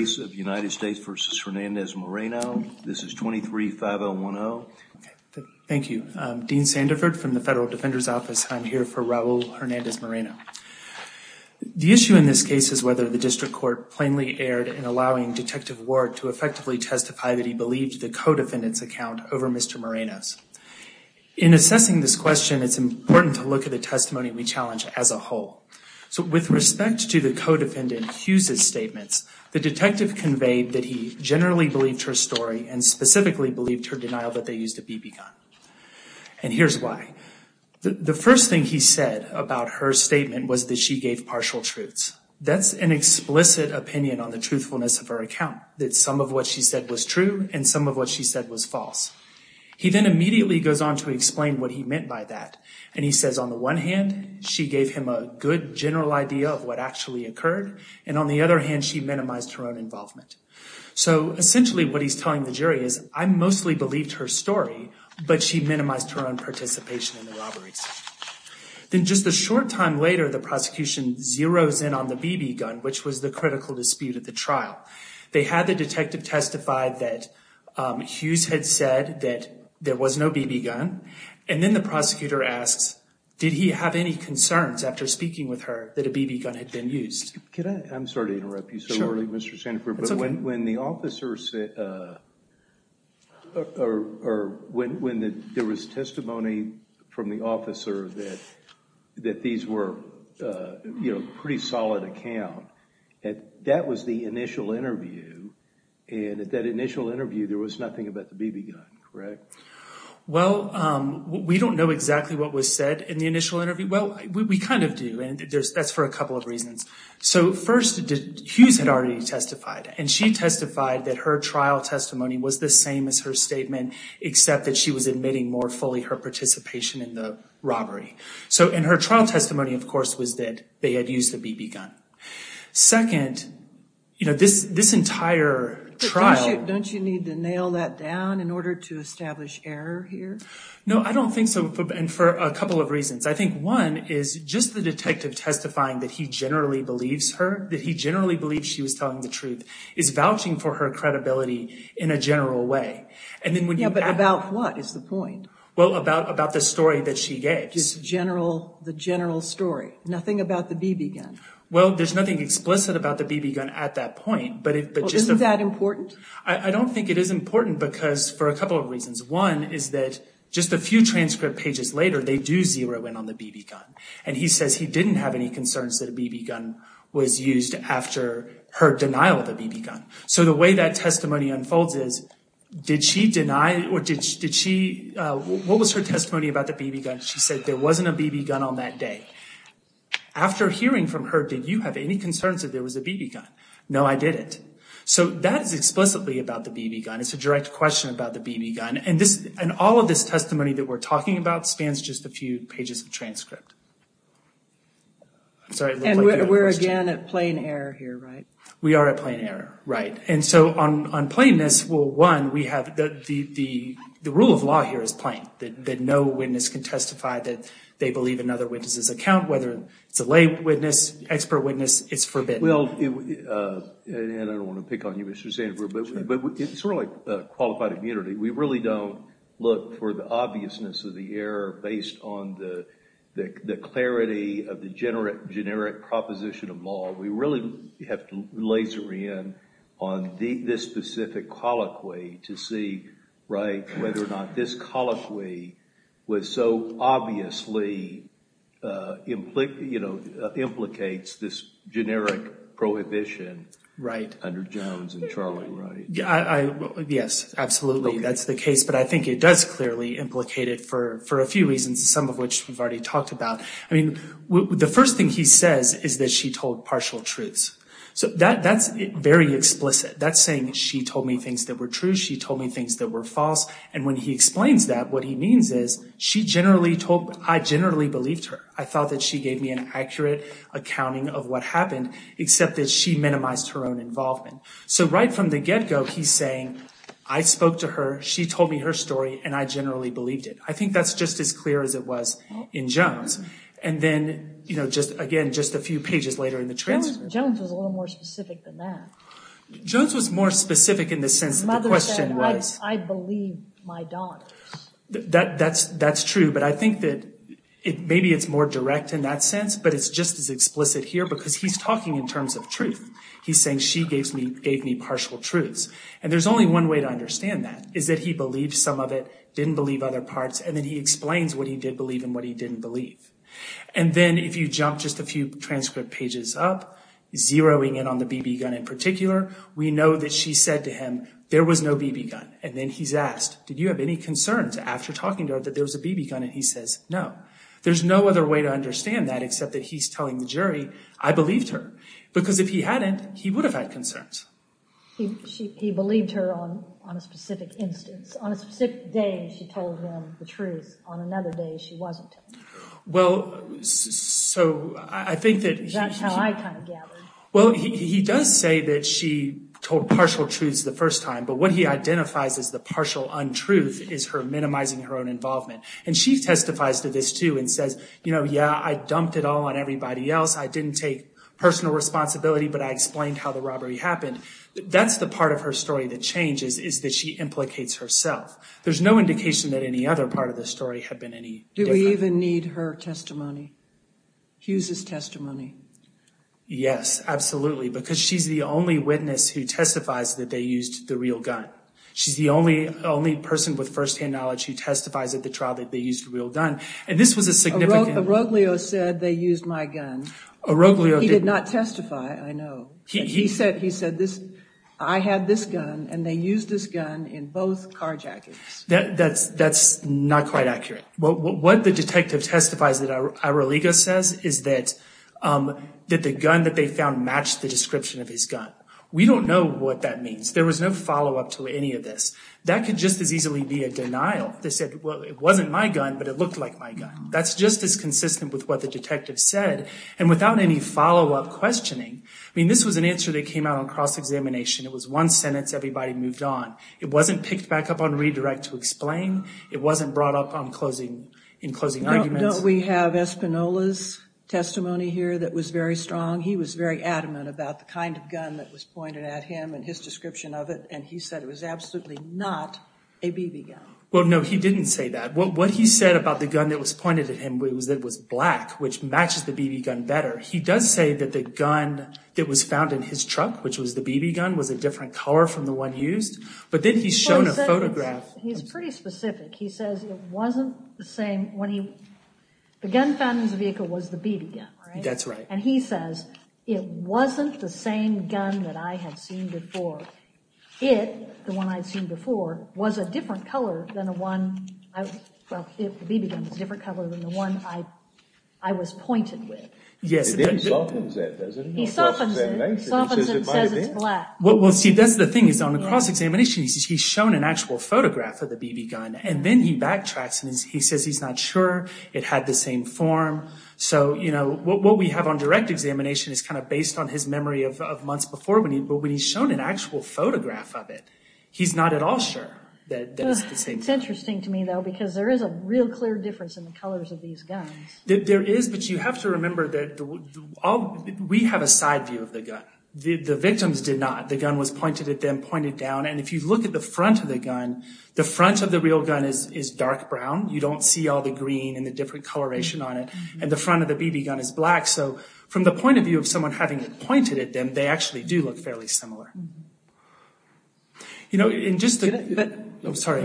This is 23-5-0-1-0. Thank you. Dean Sandiford from the Federal Defender's Office. I'm here for Raul Hernandez-Moreno. The issue in this case is whether the district court plainly erred in allowing Detective Ward to effectively testify that he believed the co-defendant's account over Mr. Moreno's. In assessing this question, it's important to look at the testimony we challenge as a whole. So with respect to the co-defendant Hughes' statements, the detective conveyed that he generally believed her story and specifically believed her denial that they used a BB gun. And here's why. The first thing he said about her statement was that she gave partial truths. That's an explicit opinion on the truthfulness of her account, that some of what she said was true and some of what she said was false. He then immediately goes on to explain what he meant by that. And he says on the one hand, she gave him a good general idea of what actually occurred. And on the other hand, she minimized her own involvement. So essentially what he's telling the jury is I mostly believed her story, but she minimized her own participation in the robberies. Then just a short time later, the prosecution zeros in on the BB gun, which was the critical dispute at the trial. They had the detective testify that Hughes had said that there was no BB gun. And then the prosecutor asks, did he have any concerns after speaking with her that a BB gun had been used? Can I? I'm sorry to interrupt you so early, Mr. Sandefur. But when the officer said, or when there was testimony from the officer that these were pretty solid accounts, that was the initial interview. And at that initial interview, there was nothing about the BB gun, correct? Well, we don't know exactly what was said in the initial interview. Well, we kind of do. And that's for a couple of reasons. So first, Hughes had already testified, and she testified that her trial testimony was the same as her statement, except that she was admitting more fully her participation in the robbery. So in her trial testimony, of course, was that they had used the BB gun. Second, you know, this entire trial... Don't you need to nail that down in order to establish error here? No, I don't think so. And for a couple of reasons. I think one is just the detective testifying that he generally believes her, that he generally believes she was telling the truth, is vouching for her credibility in a general way. And then when you... Yeah, but about what is the point? Well, about the story that she gave. Just general, the general story, nothing about the BB gun. Well, there's nothing explicit about the BB gun at that point. But isn't that important? I don't think it is important because for a couple of reasons. One is that just a few transcript pages later, they do zero in on the BB gun. And he says he didn't have any concerns that a BB gun was used after her denial of the BB gun. So the way that testimony unfolds is, did she deny or did she... What was her testimony about the BB gun? She said there wasn't a BB gun on that day. After hearing from her, did you have any concerns that there was a BB gun? No, I didn't. So that is explicitly about the BB gun. It's a direct question about the BB gun. And all of this testimony that we're talking about spans just a few pages of transcript. And we're again at plain error here, right? We are at plain error, right. And so on plainness, well, one, the rule of law here is plain. That no witness can testify that they believe another witness's account, whether it's a lay witness, expert witness, it's forbidden. Well, and I don't want to pick on you, Mr. Sandberg, but it's sort of like qualified immunity. We really don't look for the obviousness of the error based on the clarity of the generic proposition of law. We really have to laser in on this specific colloquy to see, right, under Jones and Charlie Wright. Yes, absolutely. That's the case. But I think it does clearly implicate it for a few reasons, some of which we've already talked about. I mean, the first thing he says is that she told partial truths. So that's very explicit. That's saying she told me things that were true. She told me things that were false. And when he explains that, what he means is she generally told, I generally believed her. I thought that she gave me an accurate accounting of what happened, except that she minimized her own involvement. So right from the get-go, he's saying, I spoke to her. She told me her story, and I generally believed it. I think that's just as clear as it was in Jones. And then, you know, just, again, just a few pages later in the transcript. Jones was a little more specific than that. Jones was more specific in the sense that the question was— Mother said, I believe my daughters. That's true, but I think that maybe it's more direct in that sense, but it's just as explicit here because he's talking in terms of truth. He's saying she gave me partial truths. And there's only one way to understand that, is that he believed some of it, didn't believe other parts, and then he explains what he did believe and what he didn't believe. And then if you jump just a few transcript pages up, zeroing in on the BB gun in particular, we know that she said to him, there was no BB gun. And then he's asked, did you have any concerns after talking to her that there was a BB gun? And he says, no. There's no other way to understand that except that he's telling the jury, I believed her. Because if he hadn't, he would have had concerns. He believed her on a specific instance. On a specific day, she told him the truth. On another day, she wasn't. Well, so I think that— That's how I kind of gathered. Well, he does say that she told partial truths the first time, but what he identifies as the partial untruth is her minimizing her own involvement. And she testifies to this, too, and says, you know, yeah, I dumped it all on everybody else. I didn't take personal responsibility, but I explained how the robbery happened. That's the part of her story that changes, is that she implicates herself. There's no indication that any other part of the story had been any different. Do we even need her testimony? Hughes's testimony? Yes, absolutely, because she's the only witness who testifies that they used the real gun. She's the only person with firsthand knowledge who testifies at the trial that they used a real gun. And this was a significant— Oroglio said they used my gun. Oroglio— He did not testify, I know. He said, I had this gun, and they used this gun in both carjackings. That's not quite accurate. What the detective testifies that Oroglio says is that the gun that they found matched the description of his gun. We don't know what that means. There was no follow-up to any of this. That could just as easily be a denial. They said, well, it wasn't my gun, but it looked like my gun. That's just as consistent with what the detective said, and without any follow-up questioning. I mean, this was an answer that came out on cross-examination. It was one sentence. Everybody moved on. It wasn't picked back up on redirect to explain. It wasn't brought up in closing arguments. Don't we have Espinola's testimony here that was very strong? He was very adamant about the kind of gun that was pointed at him and his description of it. And he said it was absolutely not a BB gun. Well, no, he didn't say that. What he said about the gun that was pointed at him was that it was black, which matches the BB gun better. He does say that the gun that was found in his truck, which was the BB gun, was a different color from the one used. But then he's shown a photograph— He says it wasn't the same—the gun found in his vehicle was the BB gun. That's right. And he says it wasn't the same gun that I had seen before. It, the one I'd seen before, was a different color than the one—well, the BB gun was a different color than the one I was pointed with. He softens it, doesn't he? He softens it. He softens it and says it's black. Well, see, that's the thing is on the cross-examination, he's shown an actual photograph of the BB gun, and then he backtracks and he says he's not sure it had the same form. So, you know, what we have on direct examination is kind of based on his memory of months before, but when he's shown an actual photograph of it, he's not at all sure that it's the same thing. It's interesting to me, though, because there is a real clear difference in the colors of these guns. There is, but you have to remember that we have a side view of the gun. The victims did not. The gun was pointed at them, pointed down, and if you look at the front of the gun, the front of the real gun is dark brown. You don't see all the green and the different coloration on it, and the front of the BB gun is black. So, from the point of view of someone having it pointed at them, they actually do look fairly similar. You know, and just— Can I— I'm sorry.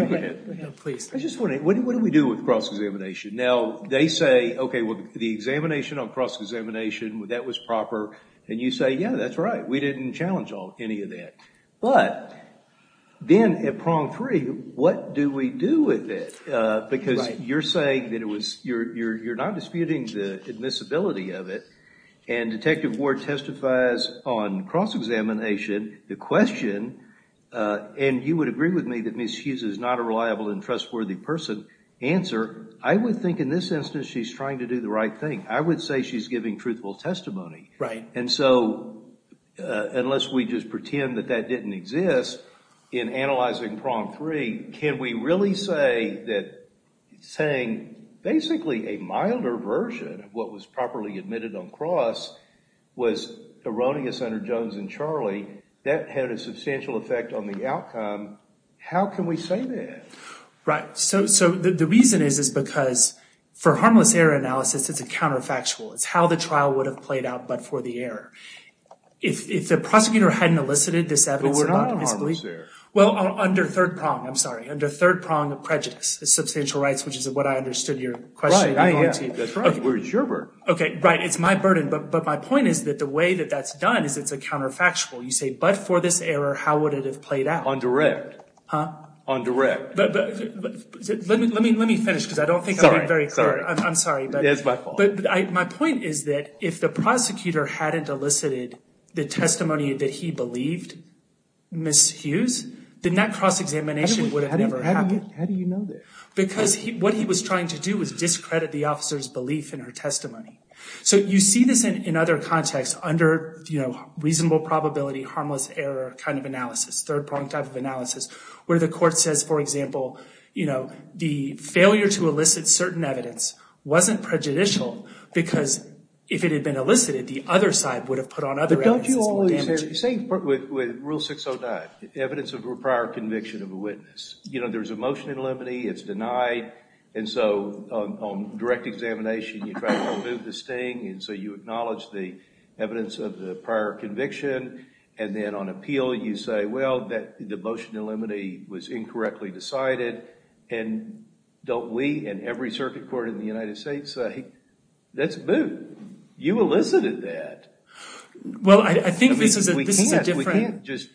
Please. I just want to—what do we do with cross-examination? Now, they say, okay, well, the examination on cross-examination, that was proper, and you say, yeah, that's right. We didn't challenge any of that. But then, at prong three, what do we do with it? Because you're saying that it was—you're not disputing the admissibility of it, and Detective Ward testifies on cross-examination. The question, and you would agree with me that Ms. Hughes is not a reliable and trustworthy person, answer, I would think in this instance she's trying to do the right thing. I would say she's giving truthful testimony. Right. And so, unless we just pretend that that didn't exist, in analyzing prong three, can we really say that saying basically a milder version of what was properly admitted on cross was erroneous under Jones and Charley? That had a substantial effect on the outcome. How can we say that? Right. So, the reason is, is because for harmless error analysis, it's a counterfactual. It's how the trial would have played out but for the error. If the prosecutor hadn't elicited this evidence— But we're not on harmless error. Well, under third prong. I'm sorry. Under third prong of prejudice. Substantial rights, which is what I understood your question being on to. Right. That's right. That's where it's your burden. Okay. Right. It's my burden. But my point is that the way that that's done is it's a counterfactual. You say, but for this error, how would it have played out? On direct. Huh? On direct. Let me finish because I don't think I'm being very clear. Sorry. I'm sorry. That's my fault. But my point is that if the prosecutor hadn't elicited the testimony that he believed, Ms. Hughes, then that cross-examination would have never happened. How do you know that? Because what he was trying to do was discredit the officer's belief in her testimony. So, you see this in other contexts under reasonable probability, harmless error kind of analysis, third prong type of analysis, where the court says, for example, the failure to elicit certain evidence wasn't prejudicial because if it had been elicited, the other side would have put on other evidence. But don't you always hear the same with Rule 609, evidence of prior conviction of a witness. You know, there's a motion in limine. It's denied. And so on direct examination, you try to remove the sting. And so you acknowledge the evidence of the prior conviction. And then on appeal, you say, well, the motion in limine was incorrectly decided. And don't we and every circuit court in the United States say, let's move. You elicited that. Well, I think this is a different. We can't just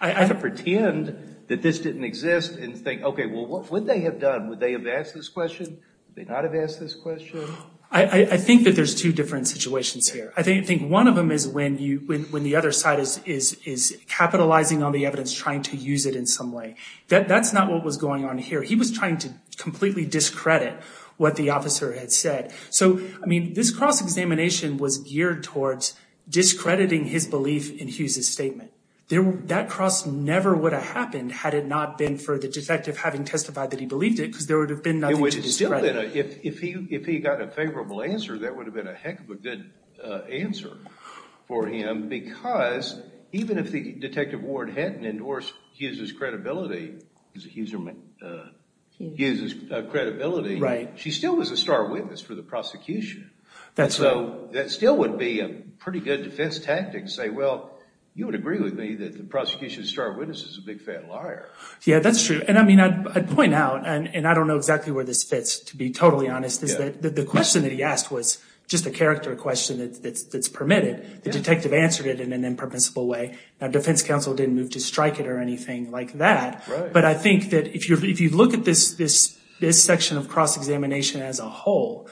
pretend that this didn't exist and think, OK, well, what would they have done? Would they have asked this question? Would they not have asked this question? I think that there's two different situations here. I think one of them is when the other side is capitalizing on the evidence, trying to use it in some way. That's not what was going on here. He was trying to completely discredit what the officer had said. So, I mean, this cross-examination was geared towards discrediting his belief in Hughes's statement. That cross never would have happened had it not been for the detective having testified that he believed it, because there would have been nothing to discredit. It would have still been, if he got a favorable answer, that would have been a heck of a good answer for him, because even if the detective Ward hadn't endorsed Hughes's credibility, Hughes's credibility, she still was a star witness for the prosecution. So that still would be a pretty good defense tactic to say, well, you would agree with me that the prosecution's star witness is a big, fat liar. Yeah, that's true. And, I mean, I'd point out, and I don't know exactly where this fits, to be totally honest, is that the question that he asked was just a character question that's permitted. The detective answered it in an impermissible way. Now, defense counsel didn't move to strike it or anything like that, but I think that if you look at this section of cross-examination as a whole,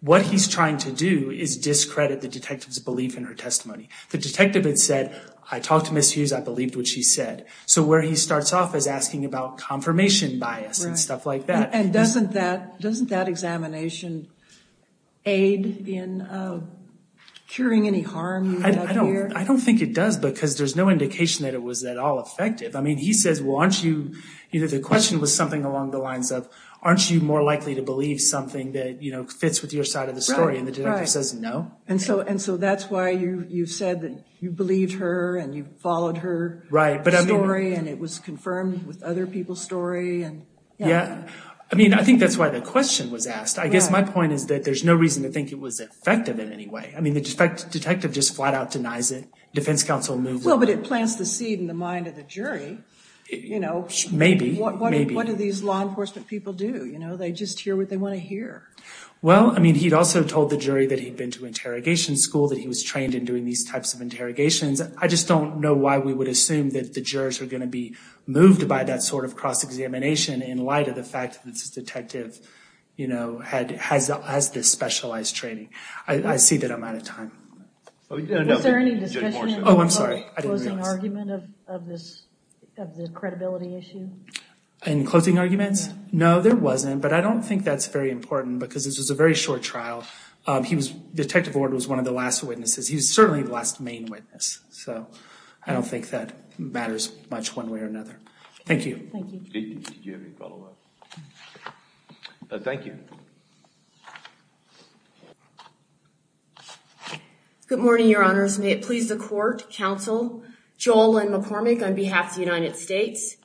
what he's trying to do is discredit the detective's belief in her testimony. The detective had said, I talked to Ms. Hughes. I believed what she said. So where he starts off is asking about confirmation bias and stuff like that. And doesn't that examination aid in curing any harm? I don't think it does because there's no indication that it was at all effective. I mean, he says, well, the question was something along the lines of, aren't you more likely to believe something that fits with your side of the story? And the detective says, no. And so that's why you said that you believed her and you followed her story and it was confirmed with other people's story. I mean, I think that's why the question was asked. I guess my point is that there's no reason to think it was effective in any way. I mean, the detective just flat out denies it. Defense counsel moved on. Well, but it plants the seed in the mind of the jury. Maybe. What do these law enforcement people do? They just hear what they want to hear. Well, I mean, he'd also told the jury that he'd been to interrogation school, that he was trained in doing these types of interrogations. I just don't know why we would assume that the jurors are going to be moved by that sort of cross-examination in light of the fact that this detective, you know, has this specialized training. I see that I'm out of time. Was there any discussion of the closing argument of this, of the credibility issue? In closing arguments? No, there wasn't. But I don't think that's very important because this was a very short trial. He was, Detective Ward was one of the last witnesses. He was certainly the last main witness. So I don't think that matters much one way or another. Thank you. Thank you. Did you have any follow-up? No. Thank you. Good morning, your honors. May it please the court, counsel, Joel Lynn McCormick on behalf of the United States.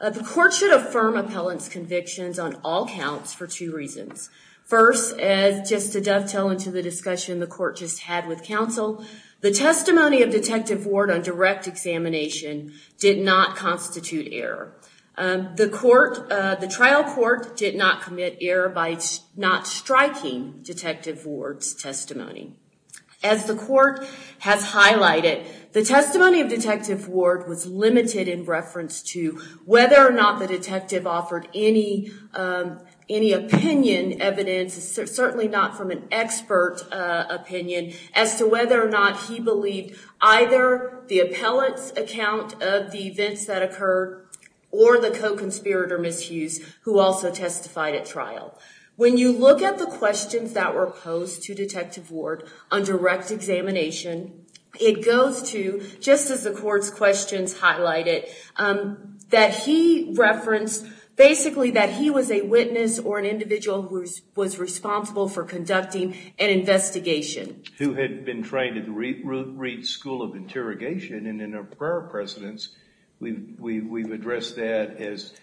The court should affirm appellant's convictions on all counts for two reasons. First, just to dovetail into the discussion the court just had with counsel, the testimony of Detective Ward on direct examination did not constitute error. The trial court did not commit error by not striking Detective Ward's testimony. As the court has highlighted, the testimony of Detective Ward was limited in reference to whether or not the detective offered any opinion evidence, certainly not from an expert opinion, as to whether or not he believed either the appellant's account of the events that occurred or the co-conspirator, Ms. Hughes, who also testified at trial. When you look at the questions that were posed to Detective Ward on direct examination, it goes to, just as the court's questions highlighted, that he referenced basically that he was a who had been trained at the Reed School of Interrogation, and in our prior precedents, we've addressed that as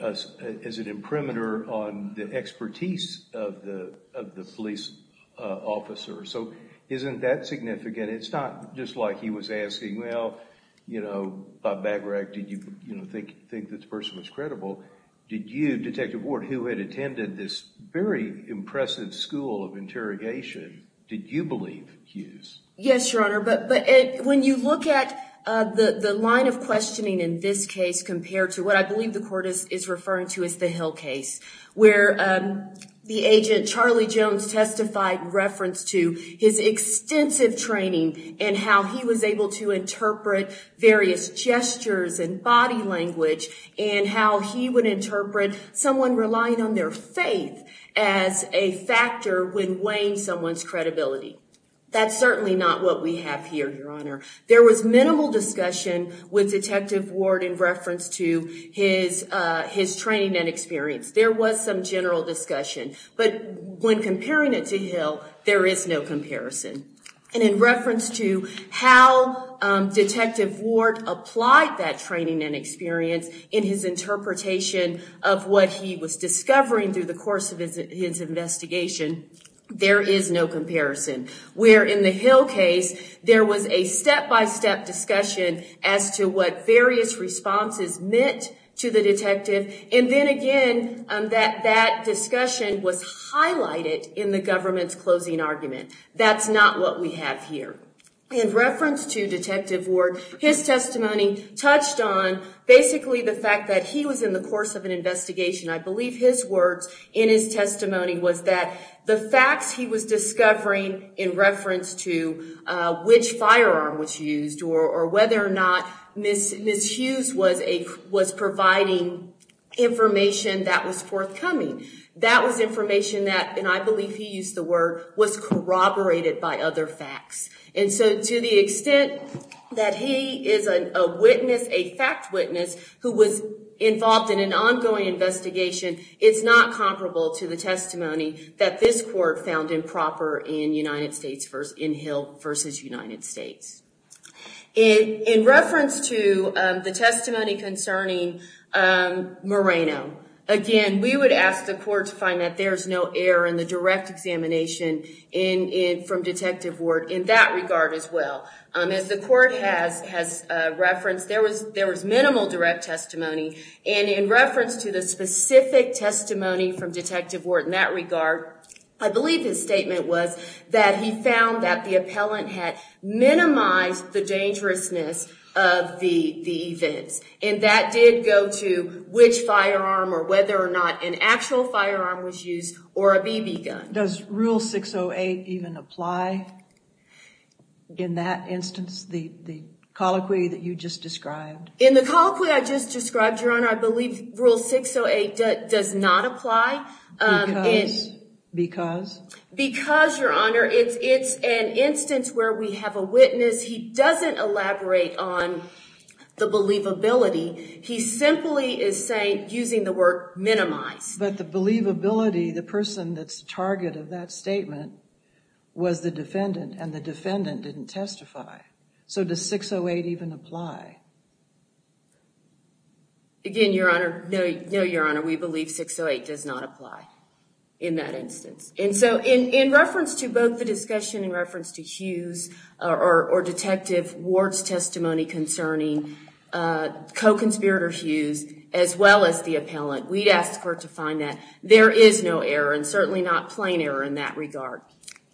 an imprimatur on the expertise of the police officer. So, isn't that significant? It's not just like he was asking, well, you know, Bob Bagrag, did you think this person was credible? Did you, Detective Ward, who had attended this very impressive school of interrogation, did you believe Hughes? Yes, Your Honor, but when you look at the line of questioning in this case compared to what I believe the court is referring to as the Hill case, where the agent, Charlie Jones, testified in reference to his extensive training and how he was able to interpret various gestures and body language, and how he would interpret someone relying on their faith as a factor when weighing someone's credibility. That's certainly not what we have here, Your Honor. There was minimal discussion with Detective Ward in reference to his training and experience. There was some general discussion, but when comparing it to Hill, there is no comparison. And in reference to how Detective Ward applied that training and experience in his interpretation of what he was discovering through the course of his investigation, there is no comparison. Where in the Hill case, there was a step-by-step discussion as to what various responses meant to the detective, and then again, that discussion was highlighted in the government's closing argument. That's not what we have here. In reference to Detective Ward, his testimony touched on basically the fact that he was in the course of an investigation. I believe his words in his testimony was that the facts he was discovering in reference to which firearm was used or whether or not Ms. Hughes was providing information that was forthcoming. That was information that, and I believe he used the word, was corroborated by other facts. And so to the extent that he is a witness, a fact witness, who was involved in an ongoing investigation, it's not comparable to the testimony that this court found improper in Hill versus United States. In reference to the testimony concerning Moreno, again, we would ask the court to find that there is no error in the direct examination from Detective Ward in that regard as well. As the court has referenced, there was minimal direct testimony, and in reference to the specific testimony from Detective Ward in that regard, I believe his statement was that he found that the appellant had minimized the dangerousness of the events. And that did go to which firearm or whether or not an actual firearm was used or a BB gun. Does Rule 608 even apply in that instance, the colloquy that you just described? In the colloquy I just described, Your Honor, I believe Rule 608 does not apply. Because? Because? Because, Your Honor, it's an instance where we have a witness. He doesn't elaborate on the believability. He simply is saying, using the word minimize. But the believability, the person that's the target of that statement was the defendant, and the defendant didn't testify. So does 608 even apply? Again, Your Honor, no, Your Honor, we believe 608 does not apply in that instance. And so in reference to both the discussion in reference to Hughes or Detective Ward's testimony concerning co-conspirator Hughes as well as the appellant, we'd ask the court to find that there is no error and certainly not plain error in that regard.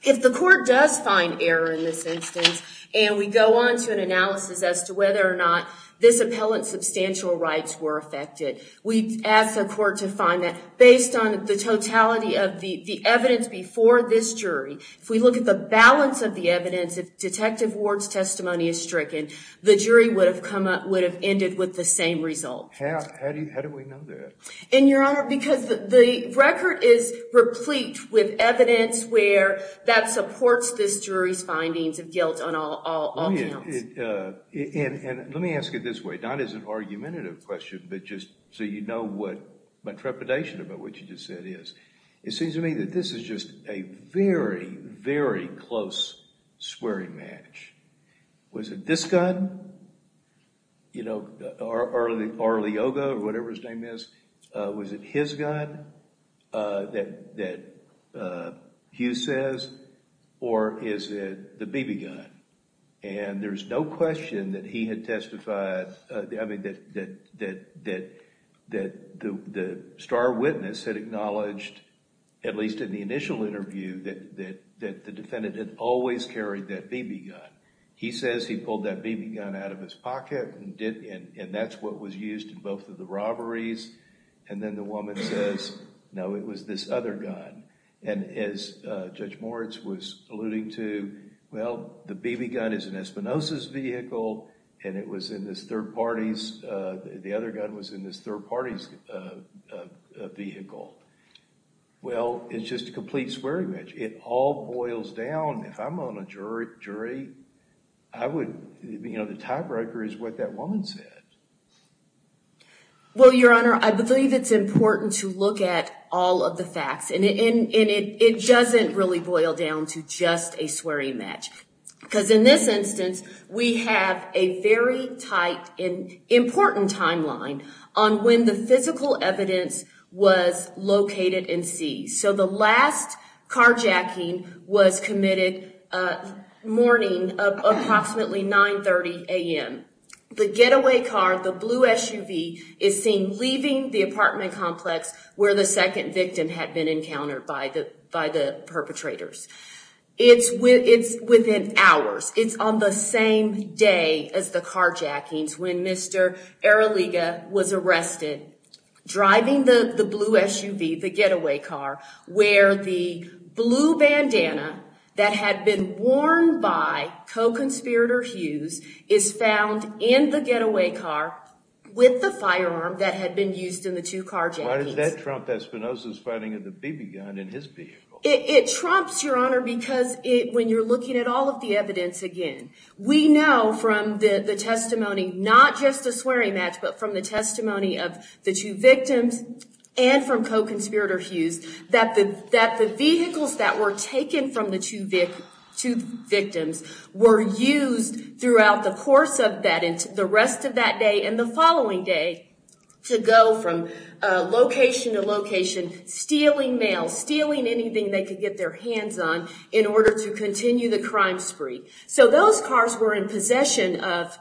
If the court does find error in this instance and we go on to an analysis as to whether or not this appellant's substantial rights were affected, we'd ask the court to find that based on the totality of the evidence before this jury. If we look at the balance of the evidence, if Detective Ward's testimony is stricken, the jury would have ended with the same result. How do we know that? And, Your Honor, because the record is replete with evidence where that supports this jury's findings of guilt on all counts. And let me ask it this way. Not as an argumentative question, but just so you know what my trepidation about what you just said is. It seems to me that this is just a very, very close swearing match. Was it this gun? You know, or early yoga or whatever his name is. Was it his gun that Hughes says? Or is it the Beebe gun? And there's no question that he had testified... I mean, that the star witness had acknowledged, at least in the initial interview, that the defendant had always carried that Beebe gun. He says he pulled that Beebe gun out of his pocket and that's what was used in both of the robberies. And then the woman says, no, it was this other gun. And as Judge Moritz was alluding to, well, the Beebe gun is an Espinosa's vehicle and it was in this third party's... the other gun was in this third party's vehicle. Well, it's just a complete swearing match. It all boils down, if I'm on a jury, I would... you know, the tiebreaker is what that woman said. Well, Your Honor, I believe it's important to look at all of the facts. And it doesn't really boil down to just a swearing match. Because in this instance, we have a very tight and important timeline on when the physical evidence was located in C. So the last carjacking was committed morning of approximately 9.30 a.m. The getaway car, the blue SUV, is seen leaving the apartment complex where the second victim had been encountered by the perpetrators. It's within hours. It's on the same day as the carjackings when Mr. Eraliga was arrested, driving the blue SUV, the getaway car, where the blue bandana that had been worn by co-conspirator Hughes is found in the getaway car with the firearm that had been used in the two carjackings. Why does that trump Espinosa's finding of the BB gun in his vehicle? It trumps, Your Honor, because when you're looking at all of the evidence again, we know from the testimony, not just the swearing match, but from the testimony of the two victims and from co-conspirator Hughes, that the vehicles that were taken from the two victims were used throughout the course of that and the rest of that day and the following day to go from location to location, stealing mail, stealing anything they could get their hands on in order to continue the crime spree. So those cars were in possession of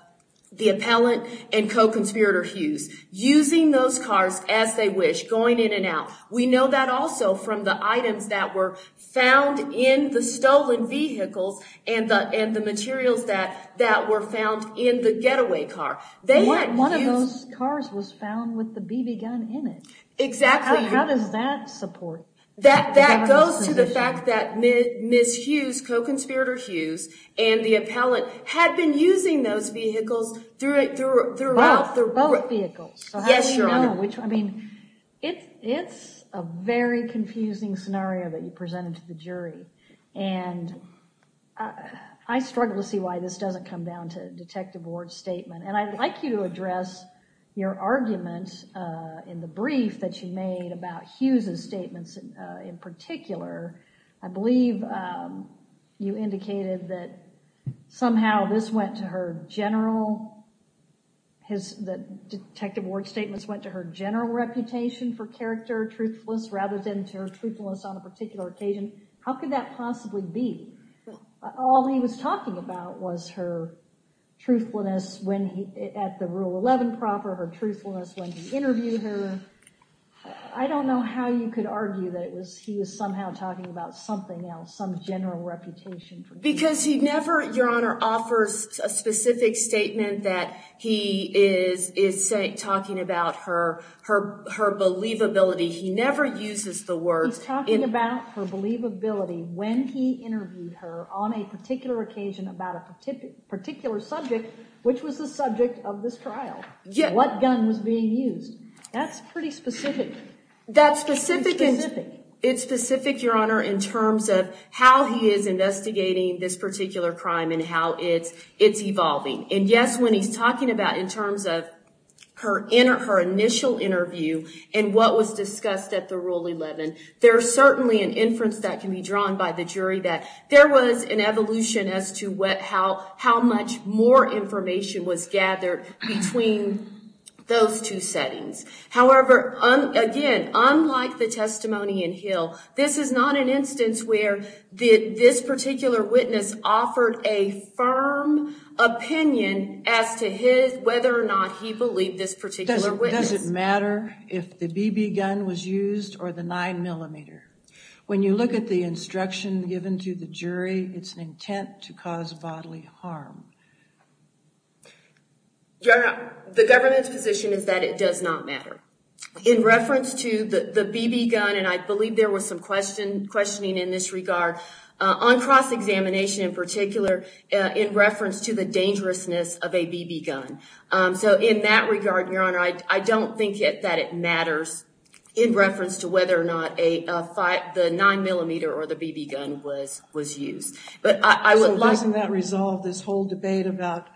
the appellant and co-conspirator Hughes, using those cars as they wish, going in and out. We know that also from the items that were found in the stolen vehicles and the materials that were found in the getaway car. One of those cars was found with the BB gun in it. Exactly. How does that support the government's position? That goes to the fact that Ms. Hughes, co-conspirator Hughes, and the appellant had been using those vehicles throughout the— Both vehicles. Yes, Your Honor. Yeah, which, I mean, it's a very confusing scenario that you presented to the jury, and I struggle to see why this doesn't come down to Detective Ward's statement. And I'd like you to address your argument in the brief that you made about Hughes' statements in particular. I believe you indicated that somehow this went to her general— that Detective Ward's statements went to her general reputation for character, truthfulness, rather than to her truthfulness on a particular occasion. How could that possibly be? All he was talking about was her truthfulness at the Rule 11 proper, her truthfulness when he interviewed her. I don't know how you could argue that he was somehow talking about something else, some general reputation. Because he never, Your Honor, offers a specific statement that he is talking about her believability. He never uses the word— He's talking about her believability when he interviewed her on a particular occasion about a particular subject, which was the subject of this trial, what gun was being used. That's pretty specific. It's specific, Your Honor, in terms of how he is investigating this particular crime and how it's evolving. And yes, when he's talking about in terms of her initial interview and what was discussed at the Rule 11, there's certainly an inference that can be drawn by the jury that there was an evolution as to how much more information was gathered between those two settings. However, again, unlike the testimony in Hill, this is not an instance where this particular witness offered a firm opinion as to whether or not he believed this particular witness. Does it matter if the BB gun was used or the 9mm? When you look at the instruction given to the jury, it's an intent to cause bodily harm. Your Honor, the government's position is that it does not matter. In reference to the BB gun, and I believe there was some questioning in this regard, on cross-examination in particular, in reference to the dangerousness of a BB gun. So in that regard, Your Honor, I don't think that it matters in reference to whether or not the 9mm or the BB gun was used. So doesn't that resolve this whole debate about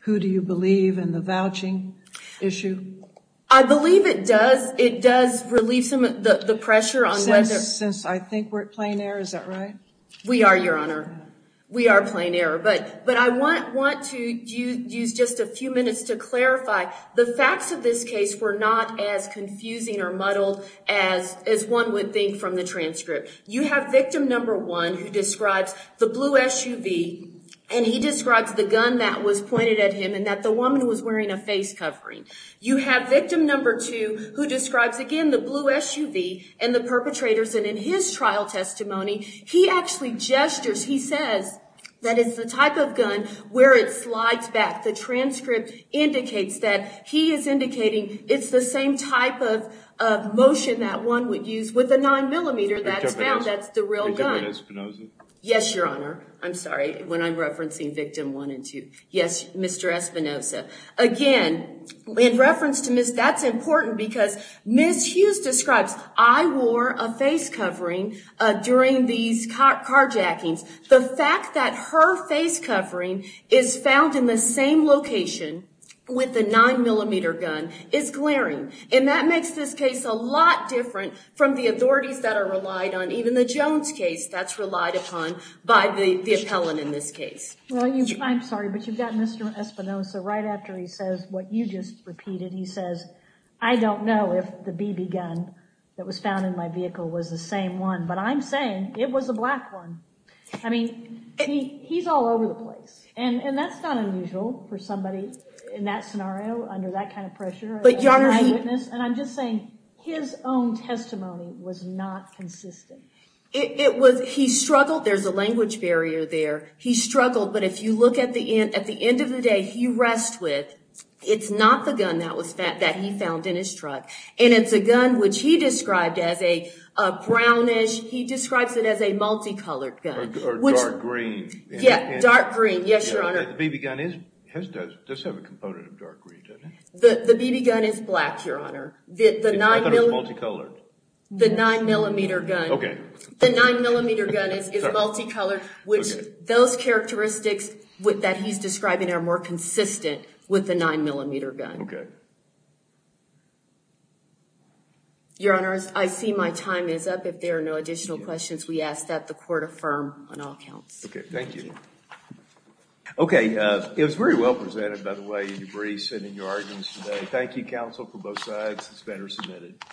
who do you believe in the vouching issue? I believe it does. It does relieve some of the pressure. Since I think we're at plain error, is that right? We are, Your Honor. We are at plain error. But I want to use just a few minutes to clarify. The facts of this case were not as confusing or muddled as one would think from the transcript. You have victim number one who describes the blue SUV, and he describes the gun that was pointed at him and that the woman was wearing a face covering. You have victim number two who describes, again, the blue SUV and the perpetrators. And in his trial testimony, he actually gestures, he says that it's the type of gun where it slides back. The transcript indicates that. He is indicating it's the same type of motion that one would use with a 9mm. That's the real gun. Yes, Your Honor. I'm sorry when I'm referencing victim one and two. Yes, Mr. Espinoza. Again, in reference to Ms. That's important because Ms. Hughes describes, I wore a face covering during these carjackings. The fact that her face covering is found in the same location with the 9mm gun is glaring. And that makes this case a lot different from the authorities that are relied on, even the Jones case that's relied upon by the appellant in this case. I'm sorry, but you've got Mr. Espinoza right after he says what you just repeated. He says, I don't know if the BB gun that was found in my vehicle was the same one, but I'm saying it was a black one. I mean, he's all over the place. And that's not unusual for somebody in that scenario under that kind of pressure. And I'm just saying, his own testimony was not consistent. He struggled. There's a language barrier there. He struggled, but if you look at the end of the day, he rests with, it's not the gun that he found in his truck. And it's a gun which he described as a brownish, he describes it as a multicolored gun. Or dark green. Yeah, dark green. Yes, Your Honor. The BB gun does have a component of dark green, doesn't it? The BB gun is black, Your Honor. I thought it was multicolored. The 9mm gun. Okay. The 9mm gun is multicolored, which those characteristics that he's describing are more consistent with the 9mm gun. Okay. Your Honor, I see my time is up. If there are no additional questions, we ask that the court affirm on all counts. Okay, thank you. Okay. It was very well presented, by the way, in your briefs and in your arguments today. Thank you, counsel, for both sides. It's been resubmitted.